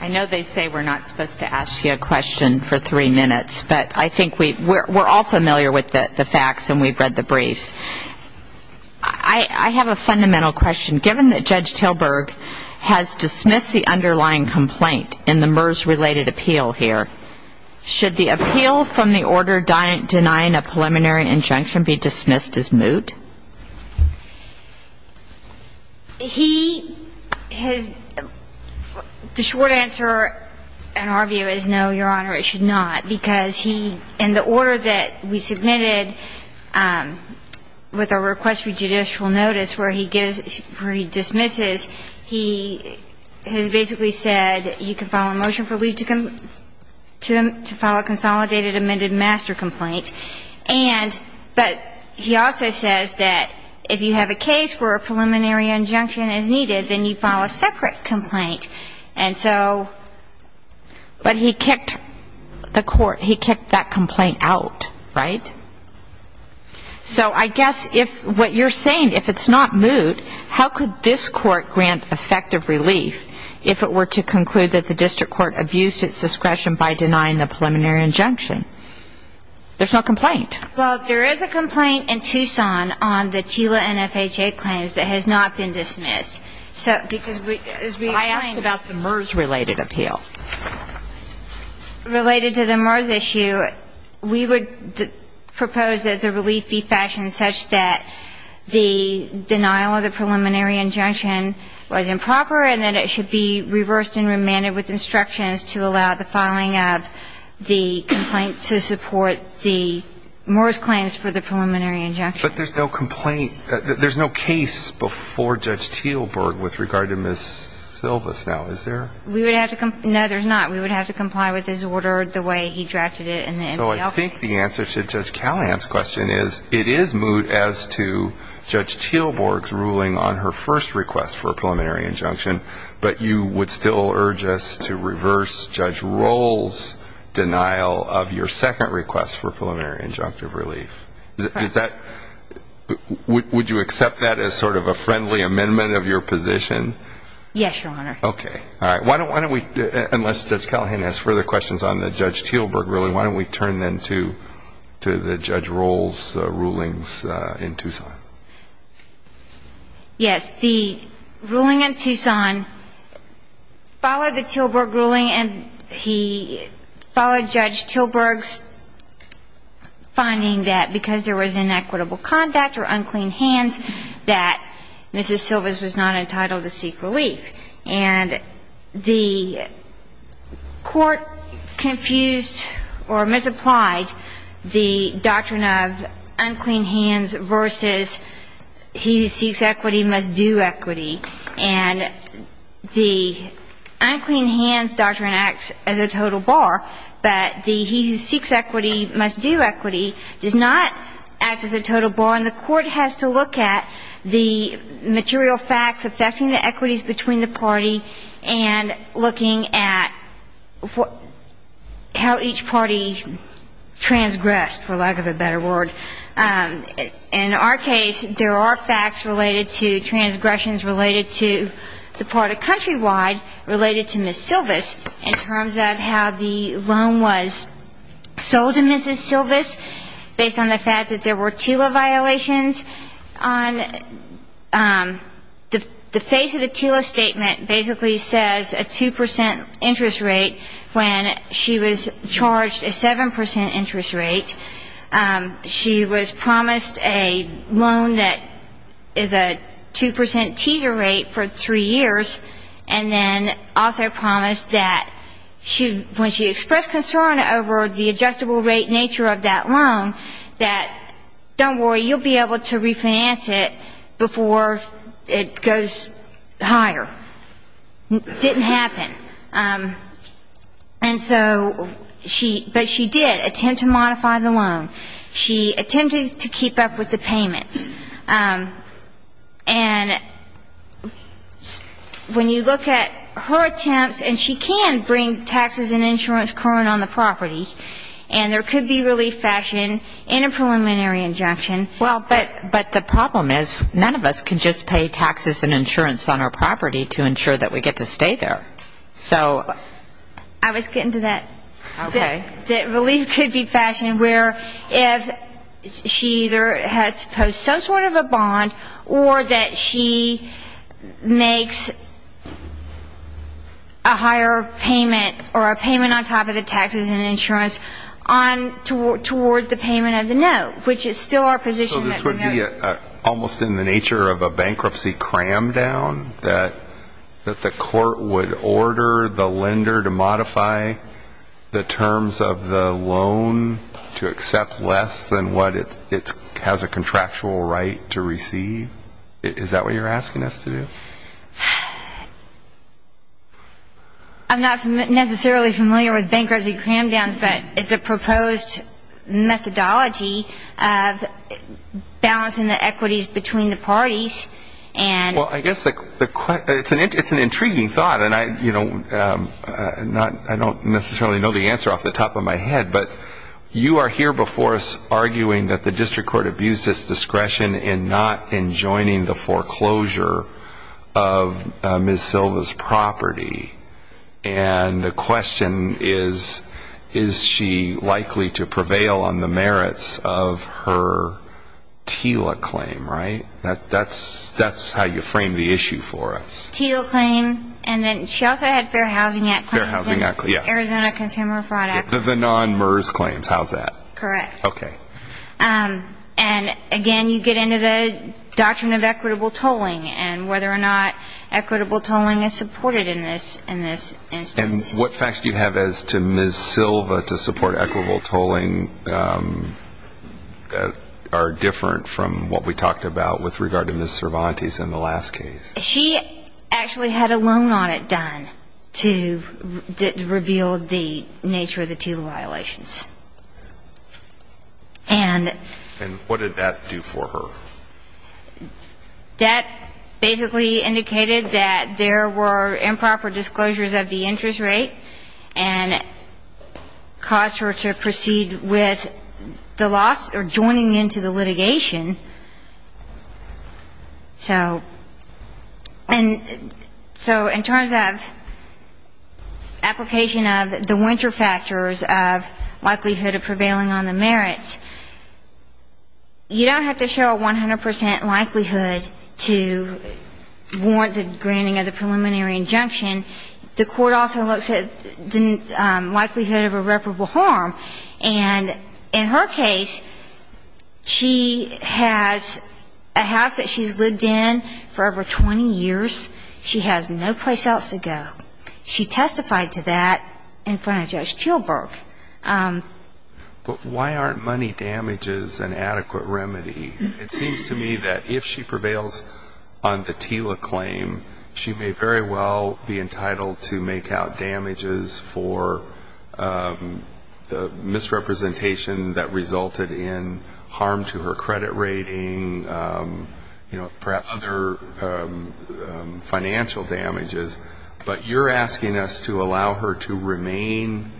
I know they say we're not supposed to ask you a question for three minutes, but I think we're all familiar with the facts and we've read the briefs. I have a fundamental question. Given that Judge Tilburg has dismissed the underlying complaint in the MERS-related appeal here, should the appeal from the order denying a preliminary injunction be dismissed as moot? He has – the short answer, in our view, is no, Your Honor, it should not. Because he – in the order that we submitted with a request for judicial notice where he dismisses, he has basically said you can file a motion for leave to file a consolidated amended master complaint. And – but he also says that if you have a case where a preliminary injunction is needed, then you file a separate complaint. And so – But he kicked the court – he kicked that complaint out, right? So I guess if – what you're saying, if it's not moot, how could this court grant effective relief if it were to conclude that the district court abused its discretion by denying the preliminary injunction? There's no complaint. Well, there is a complaint in Tucson on the TILA-NFHA claims that has not been dismissed. So – because we – as we explained – I asked about the MERS-related appeal. Related to the MERS issue, we would propose that the relief be fashioned such that the denial of the preliminary injunction was improper and that it should be reversed and remanded with instructions to allow the filing of the complaint to support the MERS claims for the preliminary injunction. But there's no complaint – there's no case before Judge Teelborg with regard to Ms. Silvas now, is there? We would have to – no, there's not. We would have to comply with his order the way he drafted it in the NBL case. So I think the answer to Judge Callahan's question is it is moot as to Judge Teelborg's ruling on her first request for a preliminary injunction, but you would still urge us to reverse Judge Roll's denial of your second request for a preliminary injunctive relief. Is that – would you accept that as sort of a friendly amendment of your position? Yes, Your Honor. Okay. All right. Why don't we – unless Judge Callahan has further questions on Judge Teelborg, really, why don't we turn then to the Judge Roll's rulings in Tucson? Yes. The ruling in Tucson followed the Teelborg ruling, and he followed Judge Teelborg's finding that because there was inequitable conduct or unclean hands that Mrs. Silvas was not entitled to seek relief. And the Court confused or misapplied the doctrine of unclean hands versus he who seeks equity must do equity. And the unclean hands doctrine acts as a total bar, but the he who seeks equity must do equity does not act as a total bar. And the Court has to look at the material facts affecting the equities between the party and looking at how each party transgressed, for lack of a better word. In our case, there are facts related to transgressions related to the part of Countrywide related to Mrs. Silvas in terms of how the loan was sold to Mrs. Silvas based on the fact that there were TILA violations. On the face of the TILA statement basically says a 2 percent interest rate when she was charged a 7 percent interest rate. She was promised a loan that is a 2 percent teaser rate for three years, and then also promised that when she expressed concern over the adjustable rate nature of that loan, that don't worry, you'll be able to refinance it before it goes higher. Didn't happen. And so she, but she did attempt to modify the loan. She attempted to keep up with the payments. And when you look at her attempts, and she can bring taxes and insurance current on the property, and there could be relief action in a preliminary injunction. Well, but the problem is none of us can just pay taxes and insurance on our property to ensure that we get to stay there. I was getting to that. Okay. That relief could be fashioned where if she either has to post some sort of a bond or that she makes a higher payment on top of the taxes and insurance toward the payment of the note, which is still our position. So this would be almost in the nature of a bankruptcy cram down that the court would order the lender to modify the terms of the loan to accept less than what it has a contractual right to receive? Is that what you're asking us to do? I'm not necessarily familiar with bankruptcy cram downs, but it's a proposed methodology of balancing the equities between the parties. Well, I guess it's an intriguing thought, and I don't necessarily know the answer off the top of my head, but you are here before us arguing that the district court abused its discretion in not enjoining the foreclosure of Ms. Silva's property. And the question is, is she likely to prevail on the merits of her TILA claim, right? That's how you frame the issue for us. TILA claim, and then she also had Fair Housing Act claims. Fair Housing Act, yeah. Arizona Consumer Fraud Act. The non-MERS claims, how's that? Correct. Okay. And, again, you get into the doctrine of equitable tolling and whether or not equitable tolling is supported in this instance. And what facts do you have as to Ms. Silva to support equitable tolling that are different from what we talked about with regard to Ms. Cervantes in the last case? She actually had a loan audit done to reveal the nature of the TILA violations. And what did that do for her? That basically indicated that there were improper disclosures of the interest rate and caused her to proceed with the loss or joining into the litigation. So in terms of application of the winter factors of likelihood of prevailing on the merits, you don't have to show a 100 percent likelihood to warrant the granting of the preliminary injunction. The court also looks at the likelihood of irreparable harm. And in her case, she has a house that she's lived in for over 20 years. She has no place else to go. She testified to that in front of Judge Chilberg. But why aren't money damages an adequate remedy? It seems to me that if she prevails on the TILA claim, she may very well be entitled to make out damages for the misrepresentation that resulted in harm to her credit rating, you know, perhaps other financial damages. But you're asking us to allow her to remain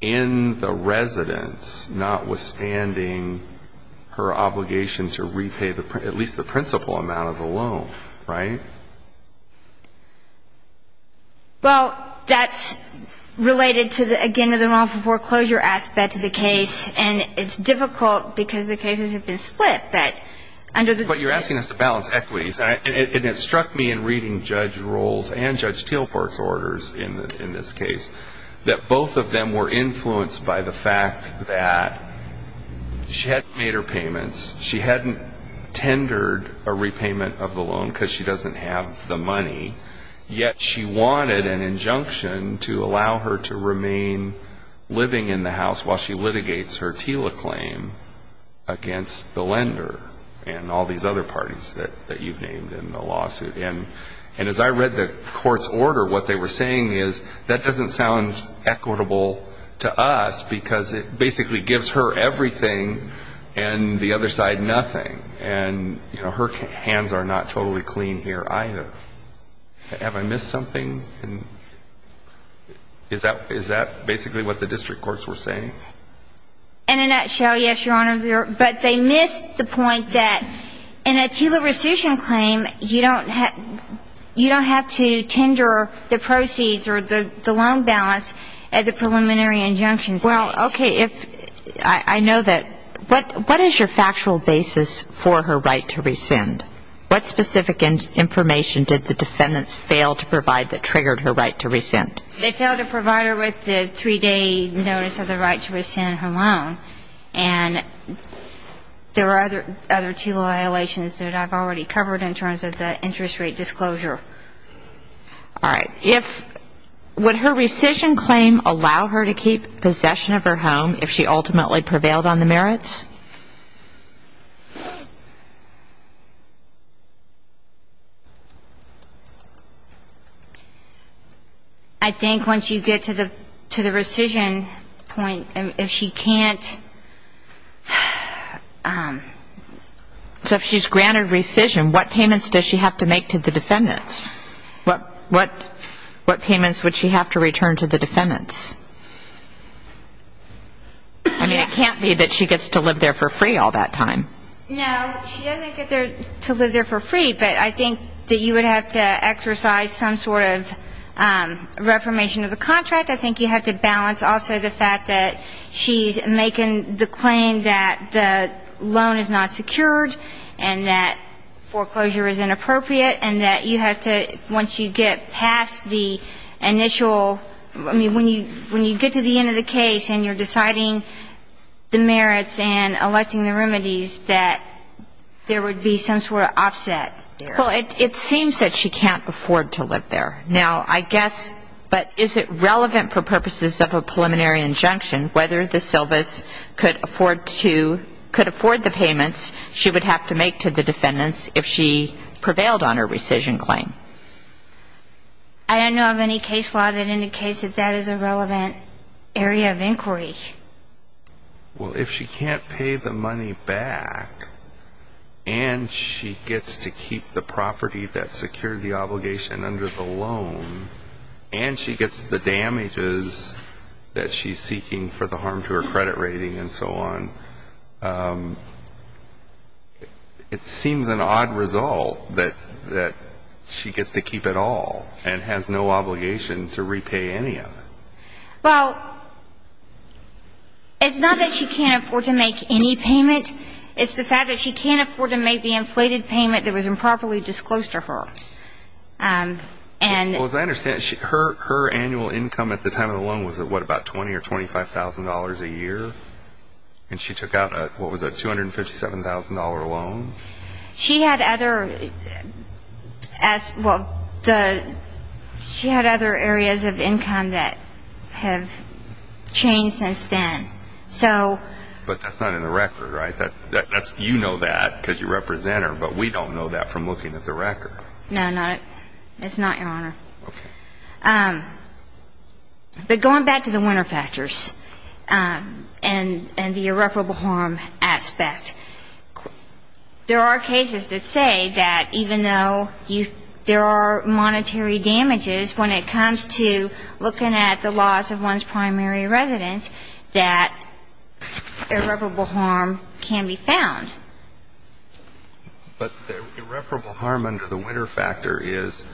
in the residence, notwithstanding her obligation to repay at least the principal amount of the loan, right? Well, that's related to, again, the wrongful foreclosure aspect of the case. And it's difficult because the cases have been split. But you're asking us to balance equities. And it struck me in reading Judge Rohl's and Judge Tilberg's orders in this case that both of them were influenced by the fact that she hadn't made her payments, she hadn't tendered a repayment of the loan because she doesn't have the money, yet she wanted an injunction to allow her to remain living in the house while she litigates her TILA claim against the lender and all these other parties that you've named in the lawsuit. And as I read the court's order, what they were saying is, that doesn't sound equitable to us because it basically gives her everything and the other side nothing. And, you know, her hands are not totally clean here either. Have I missed something? Is that basically what the district courts were saying? In a nutshell, yes, Your Honor. But they missed the point that in a TILA rescission claim, you don't have to tender the proceeds or the loan balance at the preliminary injunction site. Well, okay. I know that. What is your factual basis for her right to rescind? What specific information did the defendants fail to provide that triggered her right to rescind? They failed to provide her with the three-day notice of the right to rescind her loan. And there are other TILA violations that I've already covered in terms of the interest rate disclosure. All right. Would her rescission claim allow her to keep possession of her home if she ultimately prevailed on the merits? I think once you get to the rescission point, if she can't ‑‑ So if she's granted rescission, what payments does she have to make to the defendants? What payments would she have to return to the defendants? I mean, it can't be that she gets to live there for free all that time. No, she doesn't get to live there for free, but I think that you would have to exercise some sort of reformation of the contract. I think you have to balance also the fact that she's making the claim that the loan is not secured and that foreclosure is inappropriate and that you have to, once you get past the initial ‑‑ I mean, when you get to the end of the case and you're deciding the merits and electing the remedies, that there would be some sort of offset there. Well, it seems that she can't afford to live there. Now, I guess, but is it relevant for purposes of a preliminary injunction whether the syllabus could afford to ‑‑ could afford the payments she would have to make to the defendants if she prevailed on her rescission claim? I don't know of any case law that indicates that that is a relevant area of inquiry. Well, if she can't pay the money back and she gets to keep the property that secured the obligation under the loan and she gets the damages that she's seeking for the harm to her credit rating and so on, it seems an odd result that she gets to keep it all and has no obligation to repay any of it. Well, it's not that she can't afford to make any payment. It's the fact that she can't afford to make the inflated payment that was improperly disclosed to her. Well, as I understand it, her annual income at the time of the loan was at what, about $20,000 or $25,000 a year? And she took out a, what was it, $257,000 loan? She had other ‑‑ well, she had other areas of income that have changed since then. But that's not in the record, right? You know that because you represent her, but we don't know that from looking at the record. No, it's not, Your Honor. Okay. But going back to the winner factors and the irreparable harm aspect, there are cases that say that even though there are monetary damages when it comes to looking at the loss of one's primary residence, that irreparable harm can be found. But the irreparable harm under the winner factor is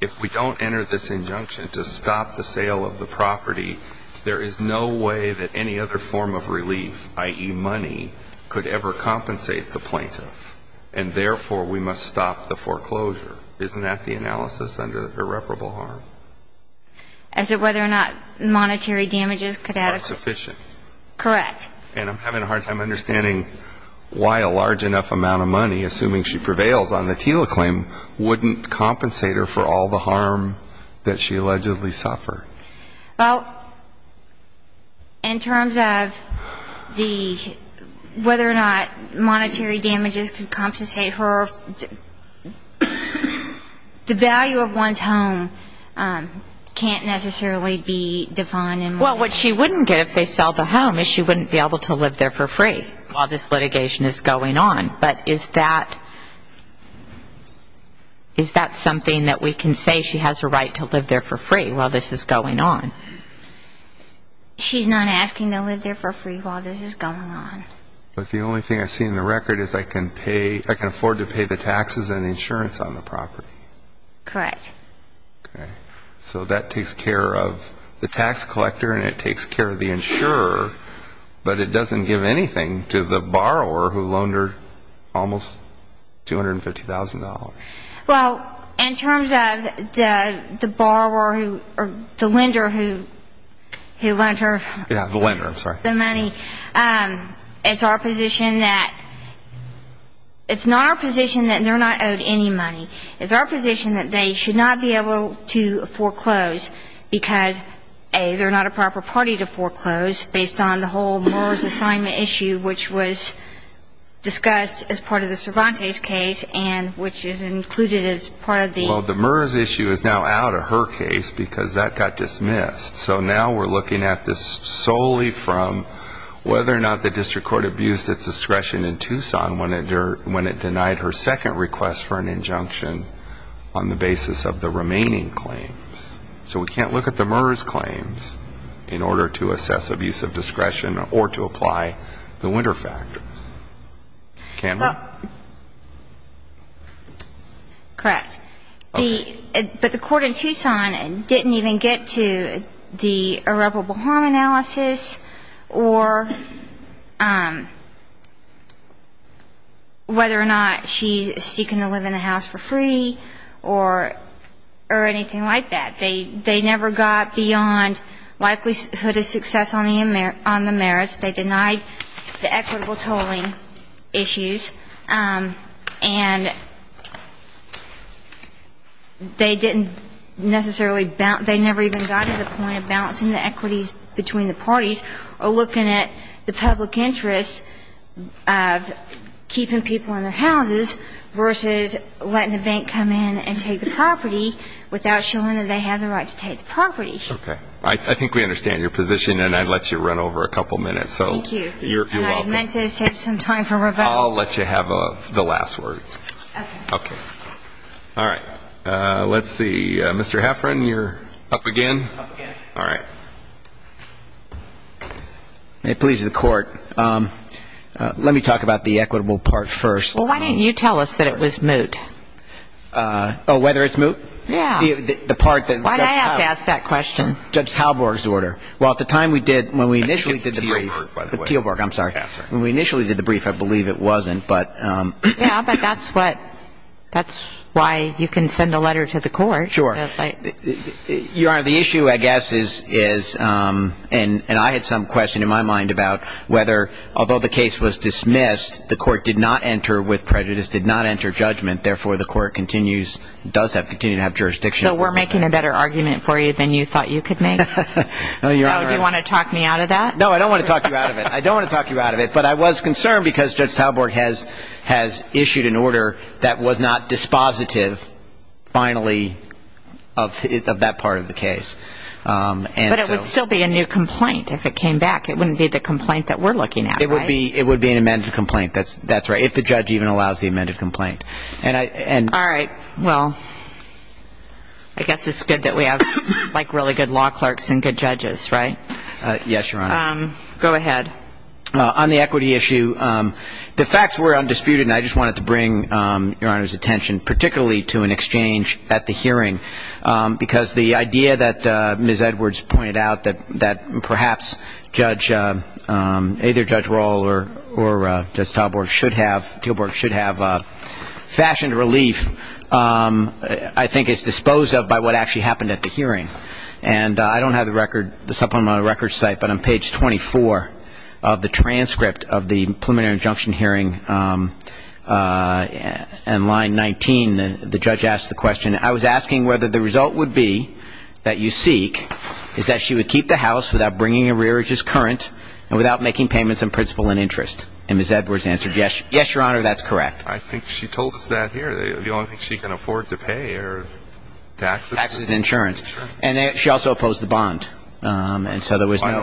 if we don't enter this injunction to stop the sale of the property, there is no way that any other form of relief, i.e., money, could ever compensate the plaintiff. And therefore, we must stop the foreclosure. Isn't that the analysis under irreparable harm? As to whether or not monetary damages could have ‑‑ Are sufficient. Correct. And I'm having a hard time understanding why a large enough amount of money, assuming she prevails on the TILA claim, wouldn't compensate her for all the harm that she allegedly suffered. Well, in terms of the ‑‑ whether or not monetary damages could compensate her, the value of one's home can't necessarily be defined in money. Well, what she wouldn't get if they sell the home is she wouldn't be able to live there for free while this litigation is going on. But is that something that we can say she has a right to live there for free while this is going on? She's not asking to live there for free while this is going on. But the only thing I see in the record is I can pay ‑‑ I can afford to pay the taxes and insurance on the property. Correct. Okay. So that takes care of the tax collector and it takes care of the insurer, but it doesn't give anything to the borrower who loaned her almost $250,000. Well, in terms of the borrower or the lender who lent her the money, it's our position that it's not our position that they're not owed any money. It's our position that they should not be able to foreclose because they're not a proper party to foreclose based on the whole Murr's assignment issue, which was discussed as part of the Cervantes case and which is included as part of the ‑‑ Well, the Murr's issue is now out of her case because that got dismissed. So now we're looking at this solely from whether or not the district court abused its discretion in Tucson when it denied her second request for an injunction on the basis of the remaining claims. So we can't look at the Murr's claims in order to assess abuse of discretion or to apply the winter factors. Campbell? Correct. But the court in Tucson didn't even get to the irreparable harm analysis or whether or not she's seeking to live in the house for free or anything like that. They never got beyond likelihood of success on the merits. They denied the equitable tolling issues. And they didn't necessarily ‑‑ they never even got to the point of balancing the equities between the parties or looking at the public interest of keeping people in their houses versus letting the bank come in and take the property without showing that they have the right to take the property. Okay. I think we understand your position, and I'd let you run over a couple minutes. Thank you. You're welcome. And I meant to save some time for Rebecca. I'll let you have the last word. Okay. Okay. All right. Let's see. Mr. Heffron, you're up again. Up again. All right. It pleases the court. Let me talk about the equitable part first. Well, why didn't you tell us that it was moot? Oh, whether it's moot? Yeah. The part that ‑‑ Why did I have to ask that question? Judge Halborg's order. Well, at the time we did, when we initially did the brief ‑‑ It's Tealborg, by the way. Tealborg, I'm sorry. When we initially did the brief, I believe it wasn't, but ‑‑ Yeah, but that's what ‑‑ that's why you can send a letter to the court. Sure. Your Honor, the issue, I guess, is, and I had some question in my mind about whether, although the case was dismissed, the court did not enter with prejudice, did not enter judgment. Therefore, the court continues, does continue to have jurisdiction. So we're making a better argument for you than you thought you could make? No, Your Honor. Do you want to talk me out of that? No, I don't want to talk you out of it. I don't want to talk you out of it. But I was concerned because Judge Tealborg has issued an order that was not dispositive, finally, of that part of the case. But it would still be a new complaint if it came back. It wouldn't be the complaint that we're looking at, right? It would be an amended complaint, that's right, if the judge even allows the amended complaint. All right. Well, I guess it's good that we have, like, really good law clerks and good judges, right? Yes, Your Honor. Go ahead. On the equity issue, the facts were undisputed, and I just wanted to bring Your Honor's attention particularly to an exchange at the hearing because the idea that Ms. Edwards pointed out that perhaps Judge, either Judge Rall or Judge Tealborg should have fashioned relief, I think is disposed of by what actually happened at the hearing. And I don't have the record, it's up on my record site, but on page 24 of the transcript of the preliminary injunction hearing and line 19, the judge asked the question, I was asking whether the result would be that you seek is that she would keep the house without bringing a rearage as current and without making payments in principle and interest. And Ms. Edwards answered, yes, Your Honor, that's correct. I think she told us that here. The only thing she can afford to pay are taxes. Taxes and insurance. And she also opposed the bond. I don't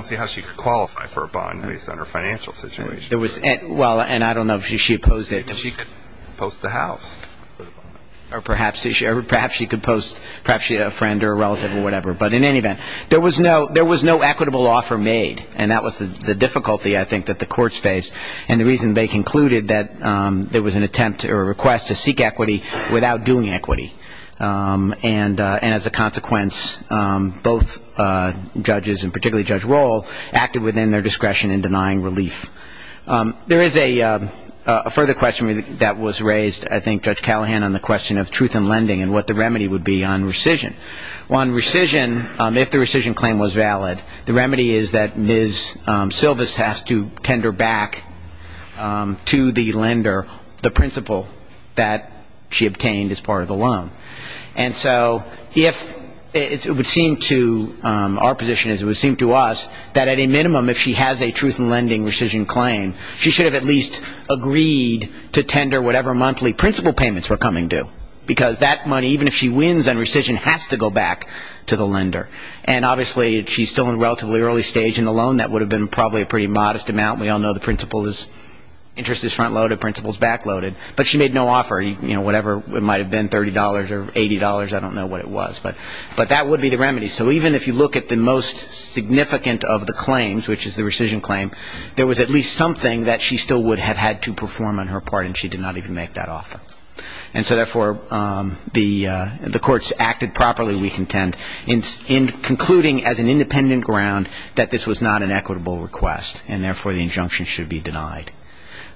see how she could qualify for a bond based on her financial situation. Well, and I don't know if she opposed it. She could post the house. Or perhaps she could post perhaps a friend or a relative or whatever. But in any event, there was no equitable offer made, and that was the difficulty I think that the courts faced and the reason they concluded that there was an attempt or a request to seek equity without doing equity. And as a consequence, both judges, and particularly Judge Roll, acted within their discretion in denying relief. There is a further question that was raised, I think, Judge Callahan, on the question of truth in lending and what the remedy would be on rescission. Well, on rescission, if the rescission claim was valid, the remedy is that Ms. Silvis has to tender back to the lender the principal that she obtained as part of the loan. And so if it would seem to our position, as it would seem to us, that at a minimum if she has a truth in lending rescission claim, she should have at least agreed to tender whatever monthly principal payments were coming due. Because that money, even if she wins on rescission, has to go back to the lender. And obviously, if she's still in relatively early stage in the loan, that would have been probably a pretty modest amount. We all know the principal's interest is front-loaded, principal's back-loaded. But she made no offer. Whatever it might have been, $30 or $80, I don't know what it was. But that would be the remedy. So even if you look at the most significant of the claims, which is the rescission claim, there was at least something that she still would have had to perform on her part, and she did not even make that offer. And so, therefore, the courts acted properly, we contend, in concluding as an independent ground that this was not an equitable request, and therefore the injunction should be denied.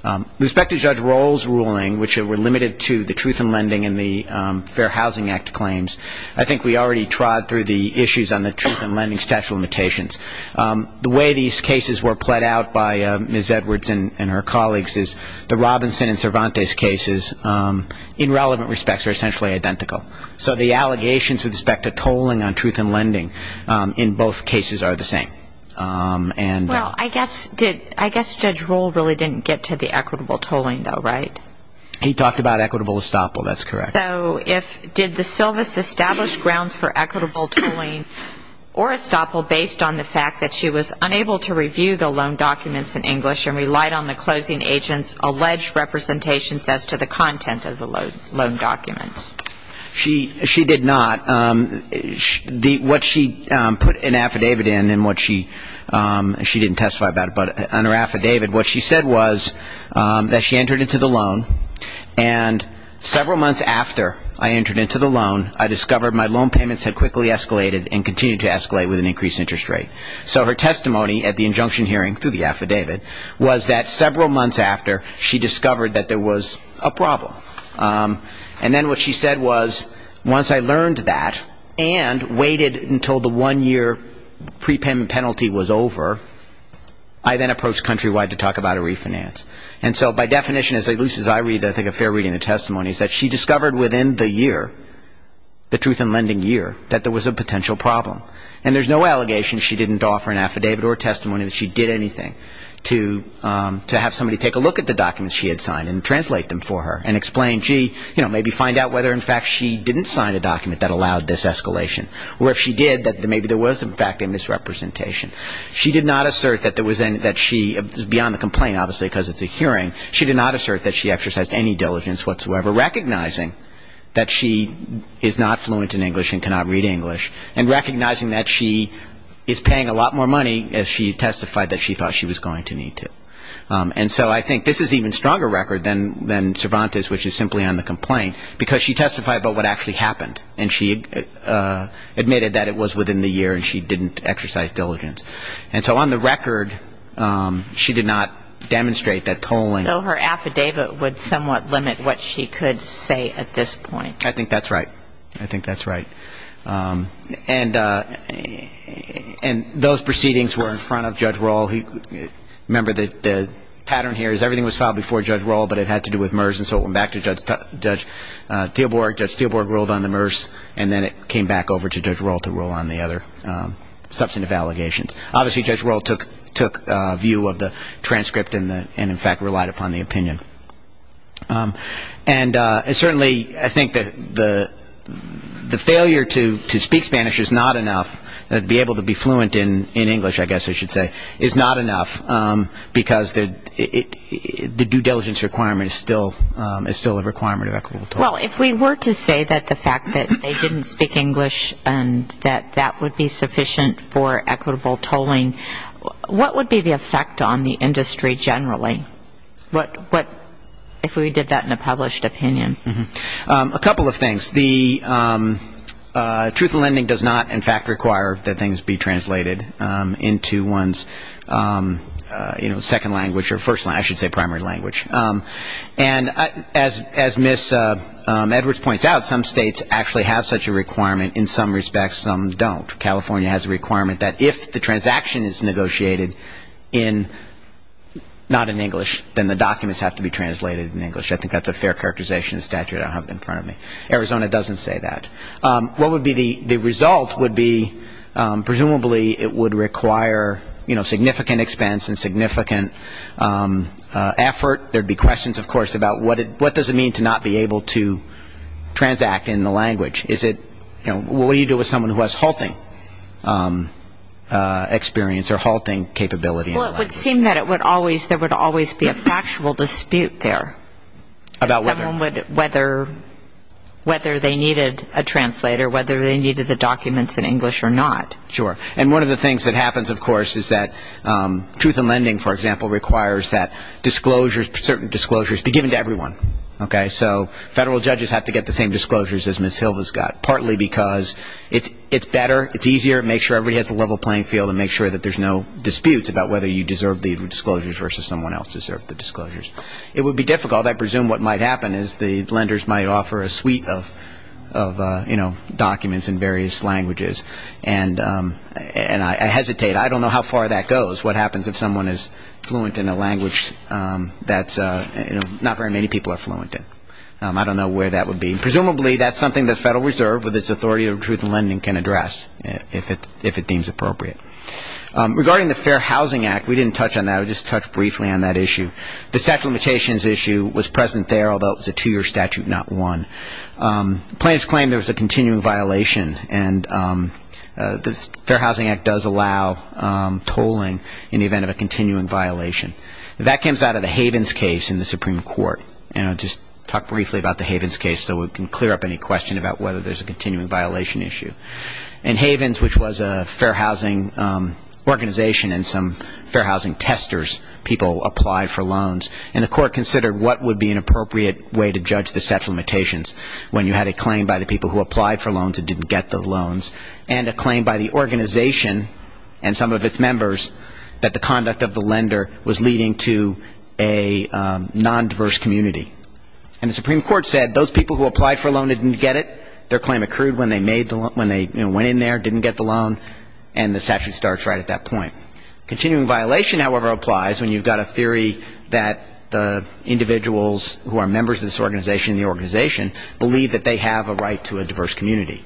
With respect to Judge Roll's ruling, which were limited to the truth in lending and the Fair Housing Act claims, I think we already trod through the issues on the truth in lending statute of limitations. The way these cases were pled out by Ms. Edwards and her colleagues is the Robinson and Cervantes cases in relevant respects are essentially identical. So the allegations with respect to tolling on truth in lending in both cases are the same. Well, I guess Judge Roll really didn't get to the equitable tolling, though, right? He talked about equitable estoppel. That's correct. So did the service establish grounds for equitable tolling or estoppel based on the fact that she was unable to review the loan documents in English and relied on the closing agent's alleged representations as to the content of the loan documents? She did not. What she put an affidavit in and what she didn't testify about it, but on her affidavit what she said was that she entered into the loan and several months after I entered into the loan, I discovered my loan payments had quickly escalated and continued to escalate with an increased interest rate. So her testimony at the injunction hearing through the affidavit was that several months after, she discovered that there was a problem. And then what she said was once I learned that and waited until the one-year prepayment penalty was over, I then approached Countrywide to talk about a refinance. And so by definition, at least as I read, I think a fair reading of the testimony, is that she discovered within the year, the truth in lending year, that there was a potential problem. And there's no allegation she didn't offer an affidavit or testimony that she did anything to have somebody take a look at the documents she had signed and translate them for her and explain, gee, you know, maybe find out whether in fact she didn't sign a document that allowed this escalation. Or if she did, that maybe there was in fact a misrepresentation. She did not assert that there was any, that she, beyond the complaint obviously because it's a hearing, she did not assert that she exercised any diligence whatsoever, recognizing that she is not fluent in English and cannot read English and recognizing that she is paying a lot more money as she testified that she thought she was going to need to. And so I think this is an even stronger record than Cervantes, which is simply on the complaint, because she testified about what actually happened and she admitted that it was within the year and she didn't exercise diligence. And so on the record, she did not demonstrate that tolling. So her affidavit would somewhat limit what she could say at this point. I think that's right. I think that's right. And those proceedings were in front of Judge Rohl. Remember, the pattern here is everything was filed before Judge Rohl, but it had to do with MERS, and so it went back to Judge Theoborg. Judge Theoborg rolled on the MERS and then it came back over to Judge Rohl to roll on the other substantive allegations. Obviously, Judge Rohl took view of the transcript and in fact relied upon the opinion. And certainly I think that the failure to speak Spanish is not enough, to be able to be fluent in English, I guess I should say, is not enough because the due diligence requirement is still a requirement of equitable tolling. Well, if we were to say that the fact that they didn't speak English and that that would be sufficient for equitable tolling, what would be the effect on the industry generally? What if we did that in a published opinion? A couple of things. The truth of lending does not in fact require that things be translated into one's second language or first language, I should say primary language. And as Ms. Edwards points out, some states actually have such a requirement. In some respects, some don't. California has a requirement that if the transaction is negotiated not in English, then the documents have to be translated in English. I think that's a fair characterization statute I have in front of me. Arizona doesn't say that. What would be the result would be presumably it would require significant expense and significant effort. There would be questions, of course, about what does it mean to not be able to transact in the language. What do you do with someone who has halting experience or halting capability? Well, it would seem that there would always be a factual dispute there. About whether? Whether they needed a translator, whether they needed the documents in English or not. Sure. And one of the things that happens, of course, is that truth of lending, for example, requires that certain disclosures be given to everyone. So federal judges have to get the same disclosures as Ms. Hilva's got, partly because it's better, it's easier, it makes sure everybody has a level playing field and makes sure that there's no disputes about whether you deserve the disclosures versus someone else deserves the disclosures. It would be difficult. I presume what might happen is the lenders might offer a suite of documents in various languages. And I hesitate. I don't know how far that goes, what happens if someone is fluent in a language that not very many people are fluent in. I don't know where that would be. Presumably that's something the Federal Reserve, with its authority over truth of lending, can address if it deems appropriate. Regarding the Fair Housing Act, we didn't touch on that. We just touched briefly on that issue. The statute of limitations issue was present there, although it was a two-year statute, not one. Plaintiffs claimed there was a continuing violation, and the Fair Housing Act does allow tolling in the event of a continuing violation. That comes out of the Havens case in the Supreme Court. And I'll just talk briefly about the Havens case so we can clear up any question about whether there's a continuing violation issue. In Havens, which was a fair housing organization and some fair housing testers, people applied for loans, and the court considered what would be an appropriate way to judge the statute of limitations when you had a claim by the people who applied for loans and didn't get the loans and a claim by the organization and some of its members that the conduct of the lender was leading to a nondiverse community. And the Supreme Court said those people who applied for a loan didn't get it, their claim accrued when they made the loan, when they went in there, didn't get the loan, and the statute starts right at that point. Continuing violation, however, applies when you've got a theory that the individuals who are members of this organization and the organization believe that they have a right to a diverse community.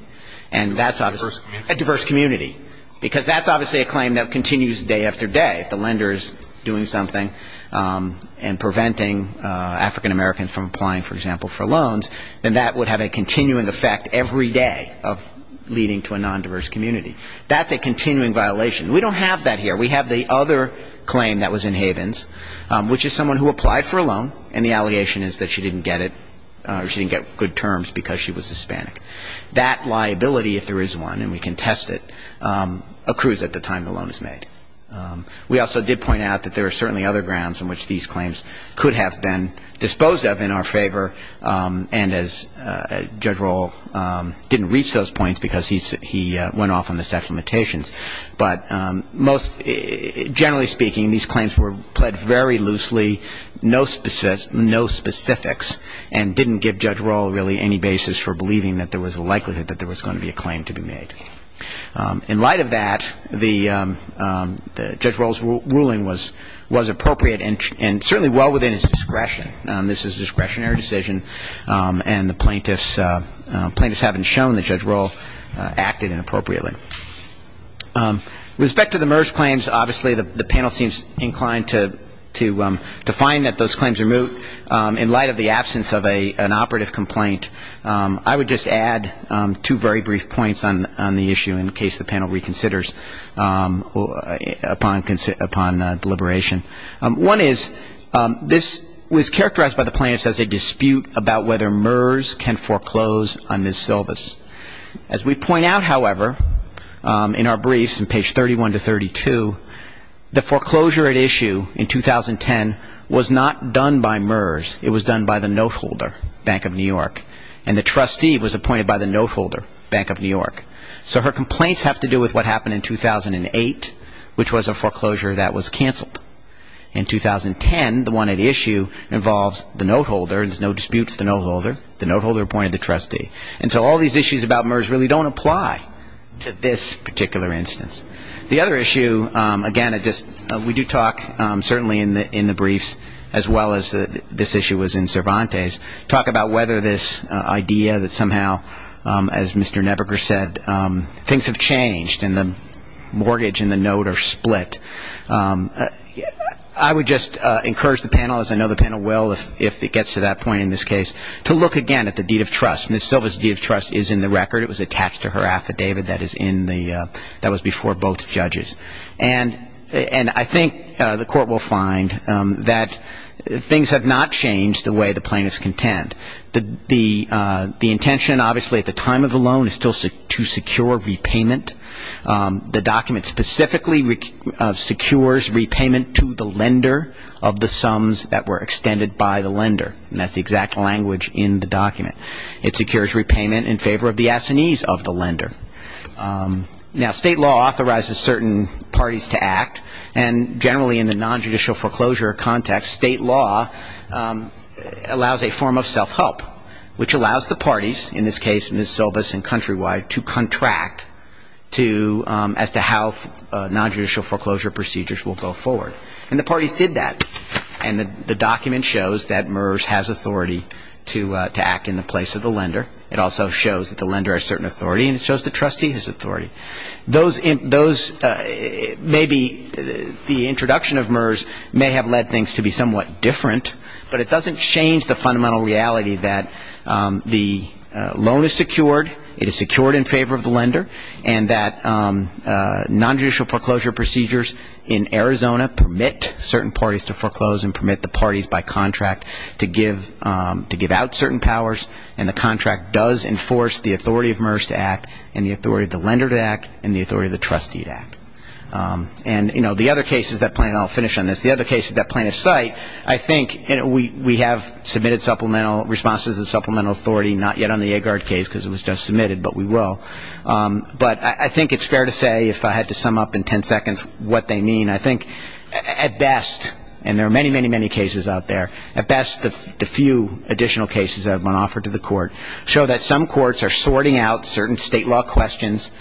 And that's obviously a diverse community, because that's obviously a claim that continues day after day. If the lender is doing something and preventing African-Americans from applying, for example, for loans, then that would have a continuing effect every day of leading to a nondiverse community. That's a continuing violation. We don't have that here. We have the other claim that was in Havens, which is someone who applied for a loan, and the allegation is that she didn't get it or she didn't get good terms because she was Hispanic. That liability, if there is one, and we can test it, accrues at the time the loan is made. We also did point out that there are certainly other grounds on which these claims could have been disposed of in our favor, and as Judge Rohl didn't reach those points because he went off on the staff limitations, but most generally speaking, these claims were pled very loosely, no specifics, and didn't give Judge Rohl really any basis for believing that there was a likelihood that there was going to be a claim to be made. In light of that, Judge Rohl's ruling was appropriate and certainly well within his discretion. This is a discretionary decision, and the plaintiffs haven't shown that Judge Rohl acted inappropriately. With respect to the MERS claims, obviously the panel seems inclined to find that those claims are moot. In light of the absence of an operative complaint, I would just add two very brief points on the issue, in case the panel reconsiders upon deliberation. One is this was characterized by the plaintiffs as a dispute about whether MERS can foreclose on Ms. Silvas. As we point out, however, in our briefs in page 31 to 32, the foreclosure at issue in 2010 was not done by MERS. It was done by the noteholder, Bank of New York, and the trustee was appointed by the noteholder, Bank of New York. So her complaints have to do with what happened in 2008, which was a foreclosure that was canceled. In 2010, the one at issue involves the noteholder. There's no dispute with the noteholder. The noteholder appointed the trustee. And so all these issues about MERS really don't apply to this particular instance. The other issue, again, we do talk certainly in the briefs, as well as this issue was in Cervantes, talk about whether this idea that somehow, as Mr. Nebiger said, things have changed and the mortgage and the note are split. I would just encourage the panel, as I know the panel will if it gets to that point in this case, to look again at the deed of trust. Ms. Silvas' deed of trust is in the record. It was attached to her affidavit that was before both judges. And I think the Court will find that things have not changed the way the plaintiffs contend. The intention, obviously, at the time of the loan is still to secure repayment. The document specifically secures repayment to the lender of the sums that were extended by the lender. And that's the exact language in the document. It secures repayment in favor of the assinees of the lender. Now, state law authorizes certain parties to act. And generally in the nonjudicial foreclosure context, state law allows a form of self-help, which allows the parties, in this case Ms. Silvas and Countrywide, to contract as to how nonjudicial foreclosure procedures will go forward. And the parties did that. And the document shows that MERS has authority to act in the place of the lender. It also shows that the lender has certain authority. And it shows the trustee his authority. Those may be the introduction of MERS may have led things to be somewhat different. But it doesn't change the fundamental reality that the loan is secured. It is secured in favor of the lender. And that nonjudicial foreclosure procedures in Arizona permit certain parties to foreclose and permit the parties by contract to give out certain powers. And the contract does enforce the authority of MERS to act and the authority of the lender to act and the authority of the trustee to act. And, you know, the other cases that plan, and I'll finish on this, the other cases that plan to cite, I think we have submitted supplemental responses and supplemental authority, not yet on the Agard case because it was just submitted, but we will. But I think it's fair to say, if I had to sum up in ten seconds what they mean, I think at best, and there are many, many, many cases out there, at best the few additional cases that have been offered to the court show that some courts are sorting out certain state law questions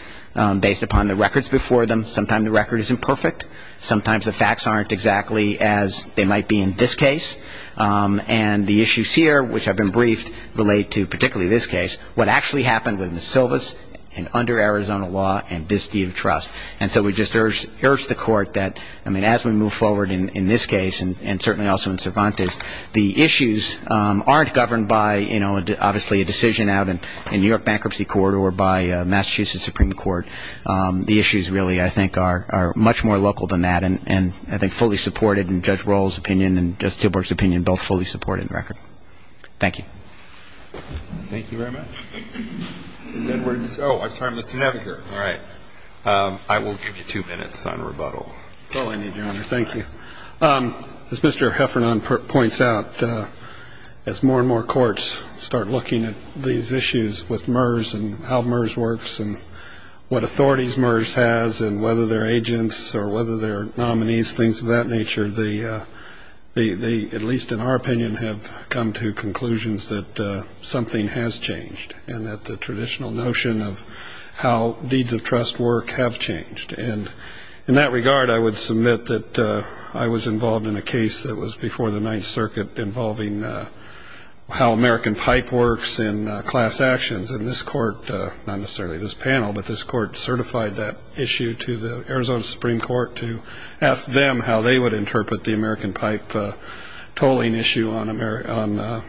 based upon the records before them. Sometimes the record isn't perfect. Sometimes the facts aren't exactly as they might be in this case. And the issues here, which have been briefed, relate to particularly this case, what actually happened with the Silvis and under Arizona law and this deed of trust. And so we just urge the court that, I mean, as we move forward in this case, and certainly also in Cervantes, the issues aren't governed by, you know, obviously a decision out in New York Bankruptcy Court or by Massachusetts Supreme Court. The issues really, I think, are much more local than that, and I think fully supported in Judge Roll's opinion and Judge Stilburg's opinion, both fully supported in the record. Thank you. Thank you very much. Edwards. Oh, I'm sorry, Mr. Neveger. All right. I will give you two minutes on rebuttal. Oh, I need your honor. Thank you. As Mr. Heffernan points out, as more and more courts start looking at these issues with MERS and how MERS works and what authorities MERS has and whether they're agents or whether they're nominees, things of that nature, they, at least in our opinion, have come to conclusions that something has changed and that the traditional notion of how deeds of trust work have changed. And in that regard, I would submit that I was involved in a case that was before the Ninth Circuit involving how American pipe works in class actions. And this court, not necessarily this panel, but this court certified that issue to the Arizona Supreme Court to ask them how they would interpret the American pipe tolling issue on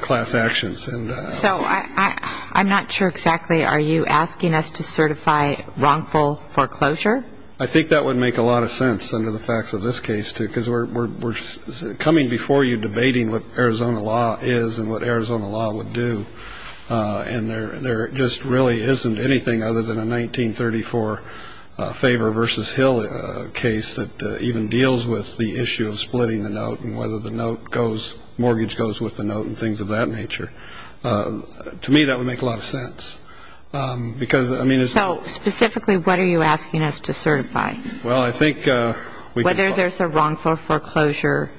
class actions. So I'm not sure exactly are you asking us to certify wrongful foreclosure? I think that would make a lot of sense under the facts of this case, too, because we're coming before you debating what Arizona law is and what Arizona law would do. And there just really isn't anything other than a 1934 Favor v. Hill case that even deals with the issue of splitting the note and whether the note goes, mortgage goes with the note and things of that nature. To me, that would make a lot of sense. Because, I mean, it's not. So, specifically, what are you asking us to certify? Well, I think we could. Whether there's a wrongful foreclosure,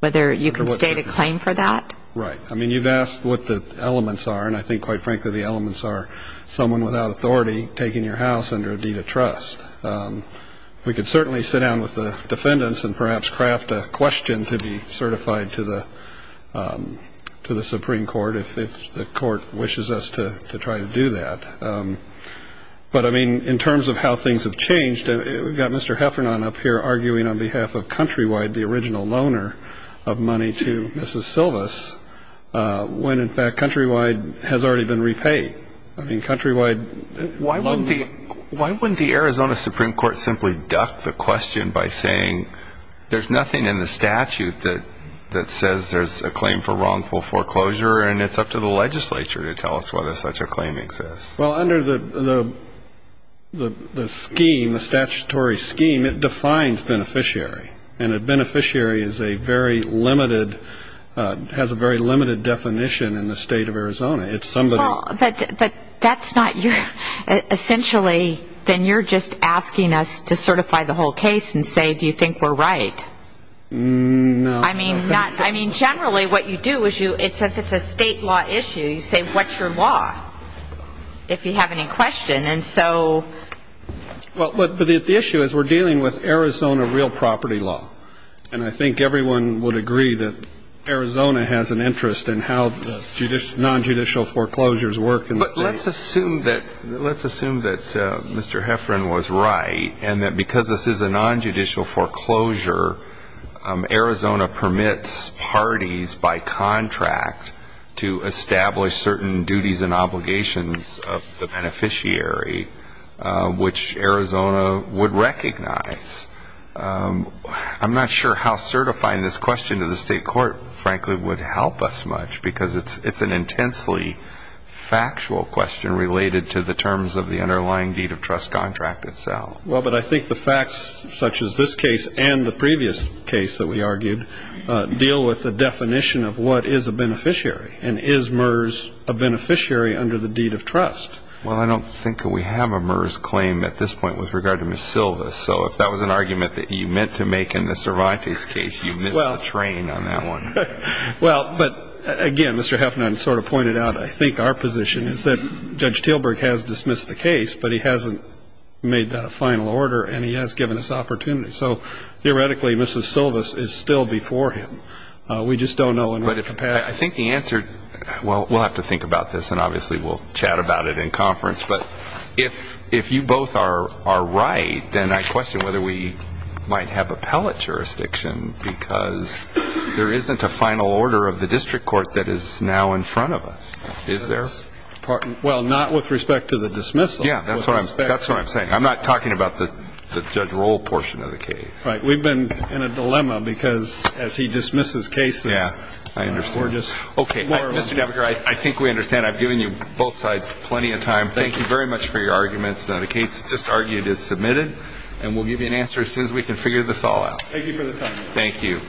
whether you can state a claim for that? Right. I mean, you've asked what the elements are, and I think, quite frankly, the elements are someone without authority taking your house under a deed of trust. We could certainly sit down with the defendants and perhaps craft a question to be certified to the Supreme Court if the court wishes us to try to do that. But, I mean, in terms of how things have changed, we've got Mr. Heffernan up here arguing on behalf of Countrywide, the original loaner of money to Mrs. Silvas, when, in fact, Countrywide has already been repaid. I mean, Countrywide loaned money. And the Supreme Court simply ducked the question by saying, there's nothing in the statute that says there's a claim for wrongful foreclosure, and it's up to the legislature to tell us whether such a claim exists. Well, under the scheme, the statutory scheme, it defines beneficiary. And a beneficiary is a very limited, has a very limited definition in the state of Arizona. But that's not your, essentially, then you're just asking us to certify the whole case and say, do you think we're right? No. I mean, generally what you do is you, if it's a state law issue, you say, what's your law? If you have any question, and so. Well, the issue is we're dealing with Arizona real property law. And I think everyone would agree that Arizona has an interest in how the nonjudicial foreclosures work in the state. But let's assume that Mr. Heffron was right, and that because this is a nonjudicial foreclosure, Arizona permits parties by contract to establish certain duties and obligations of the beneficiary, which Arizona would recognize. I'm not sure how certifying this question to the state court, frankly, would help us much, because it's an intensely factual question related to the terms of the underlying deed of trust contract itself. Well, but I think the facts, such as this case and the previous case that we argued, deal with the definition of what is a beneficiary, and is MERS a beneficiary under the deed of trust? Well, I don't think that we have a MERS claim at this point with regard to Ms. Silvas. So if that was an argument that you meant to make in the Cervantes case, you missed the train on that one. Well, but, again, Mr. Heffron sort of pointed out, I think, our position is that Judge Teelburg has dismissed the case, but he hasn't made that a final order, and he has given us opportunity. So, theoretically, Mrs. Silvas is still before him. We just don't know in what capacity. Well, we'll have to think about this, and obviously we'll chat about it in conference. But if you both are right, then I question whether we might have appellate jurisdiction, because there isn't a final order of the district court that is now in front of us, is there? Well, not with respect to the dismissal. Yeah, that's what I'm saying. I'm not talking about the Judge Roll portion of the case. Right. We've been in a dilemma, because as he dismisses cases, we're just more of them. Okay, Mr. Devereux, I think we understand. I've given you both sides plenty of time. Thank you very much for your arguments. The case just argued is submitted, and we'll give you an answer as soon as we can figure this all out. Thank you for the time. Thank you. All rise.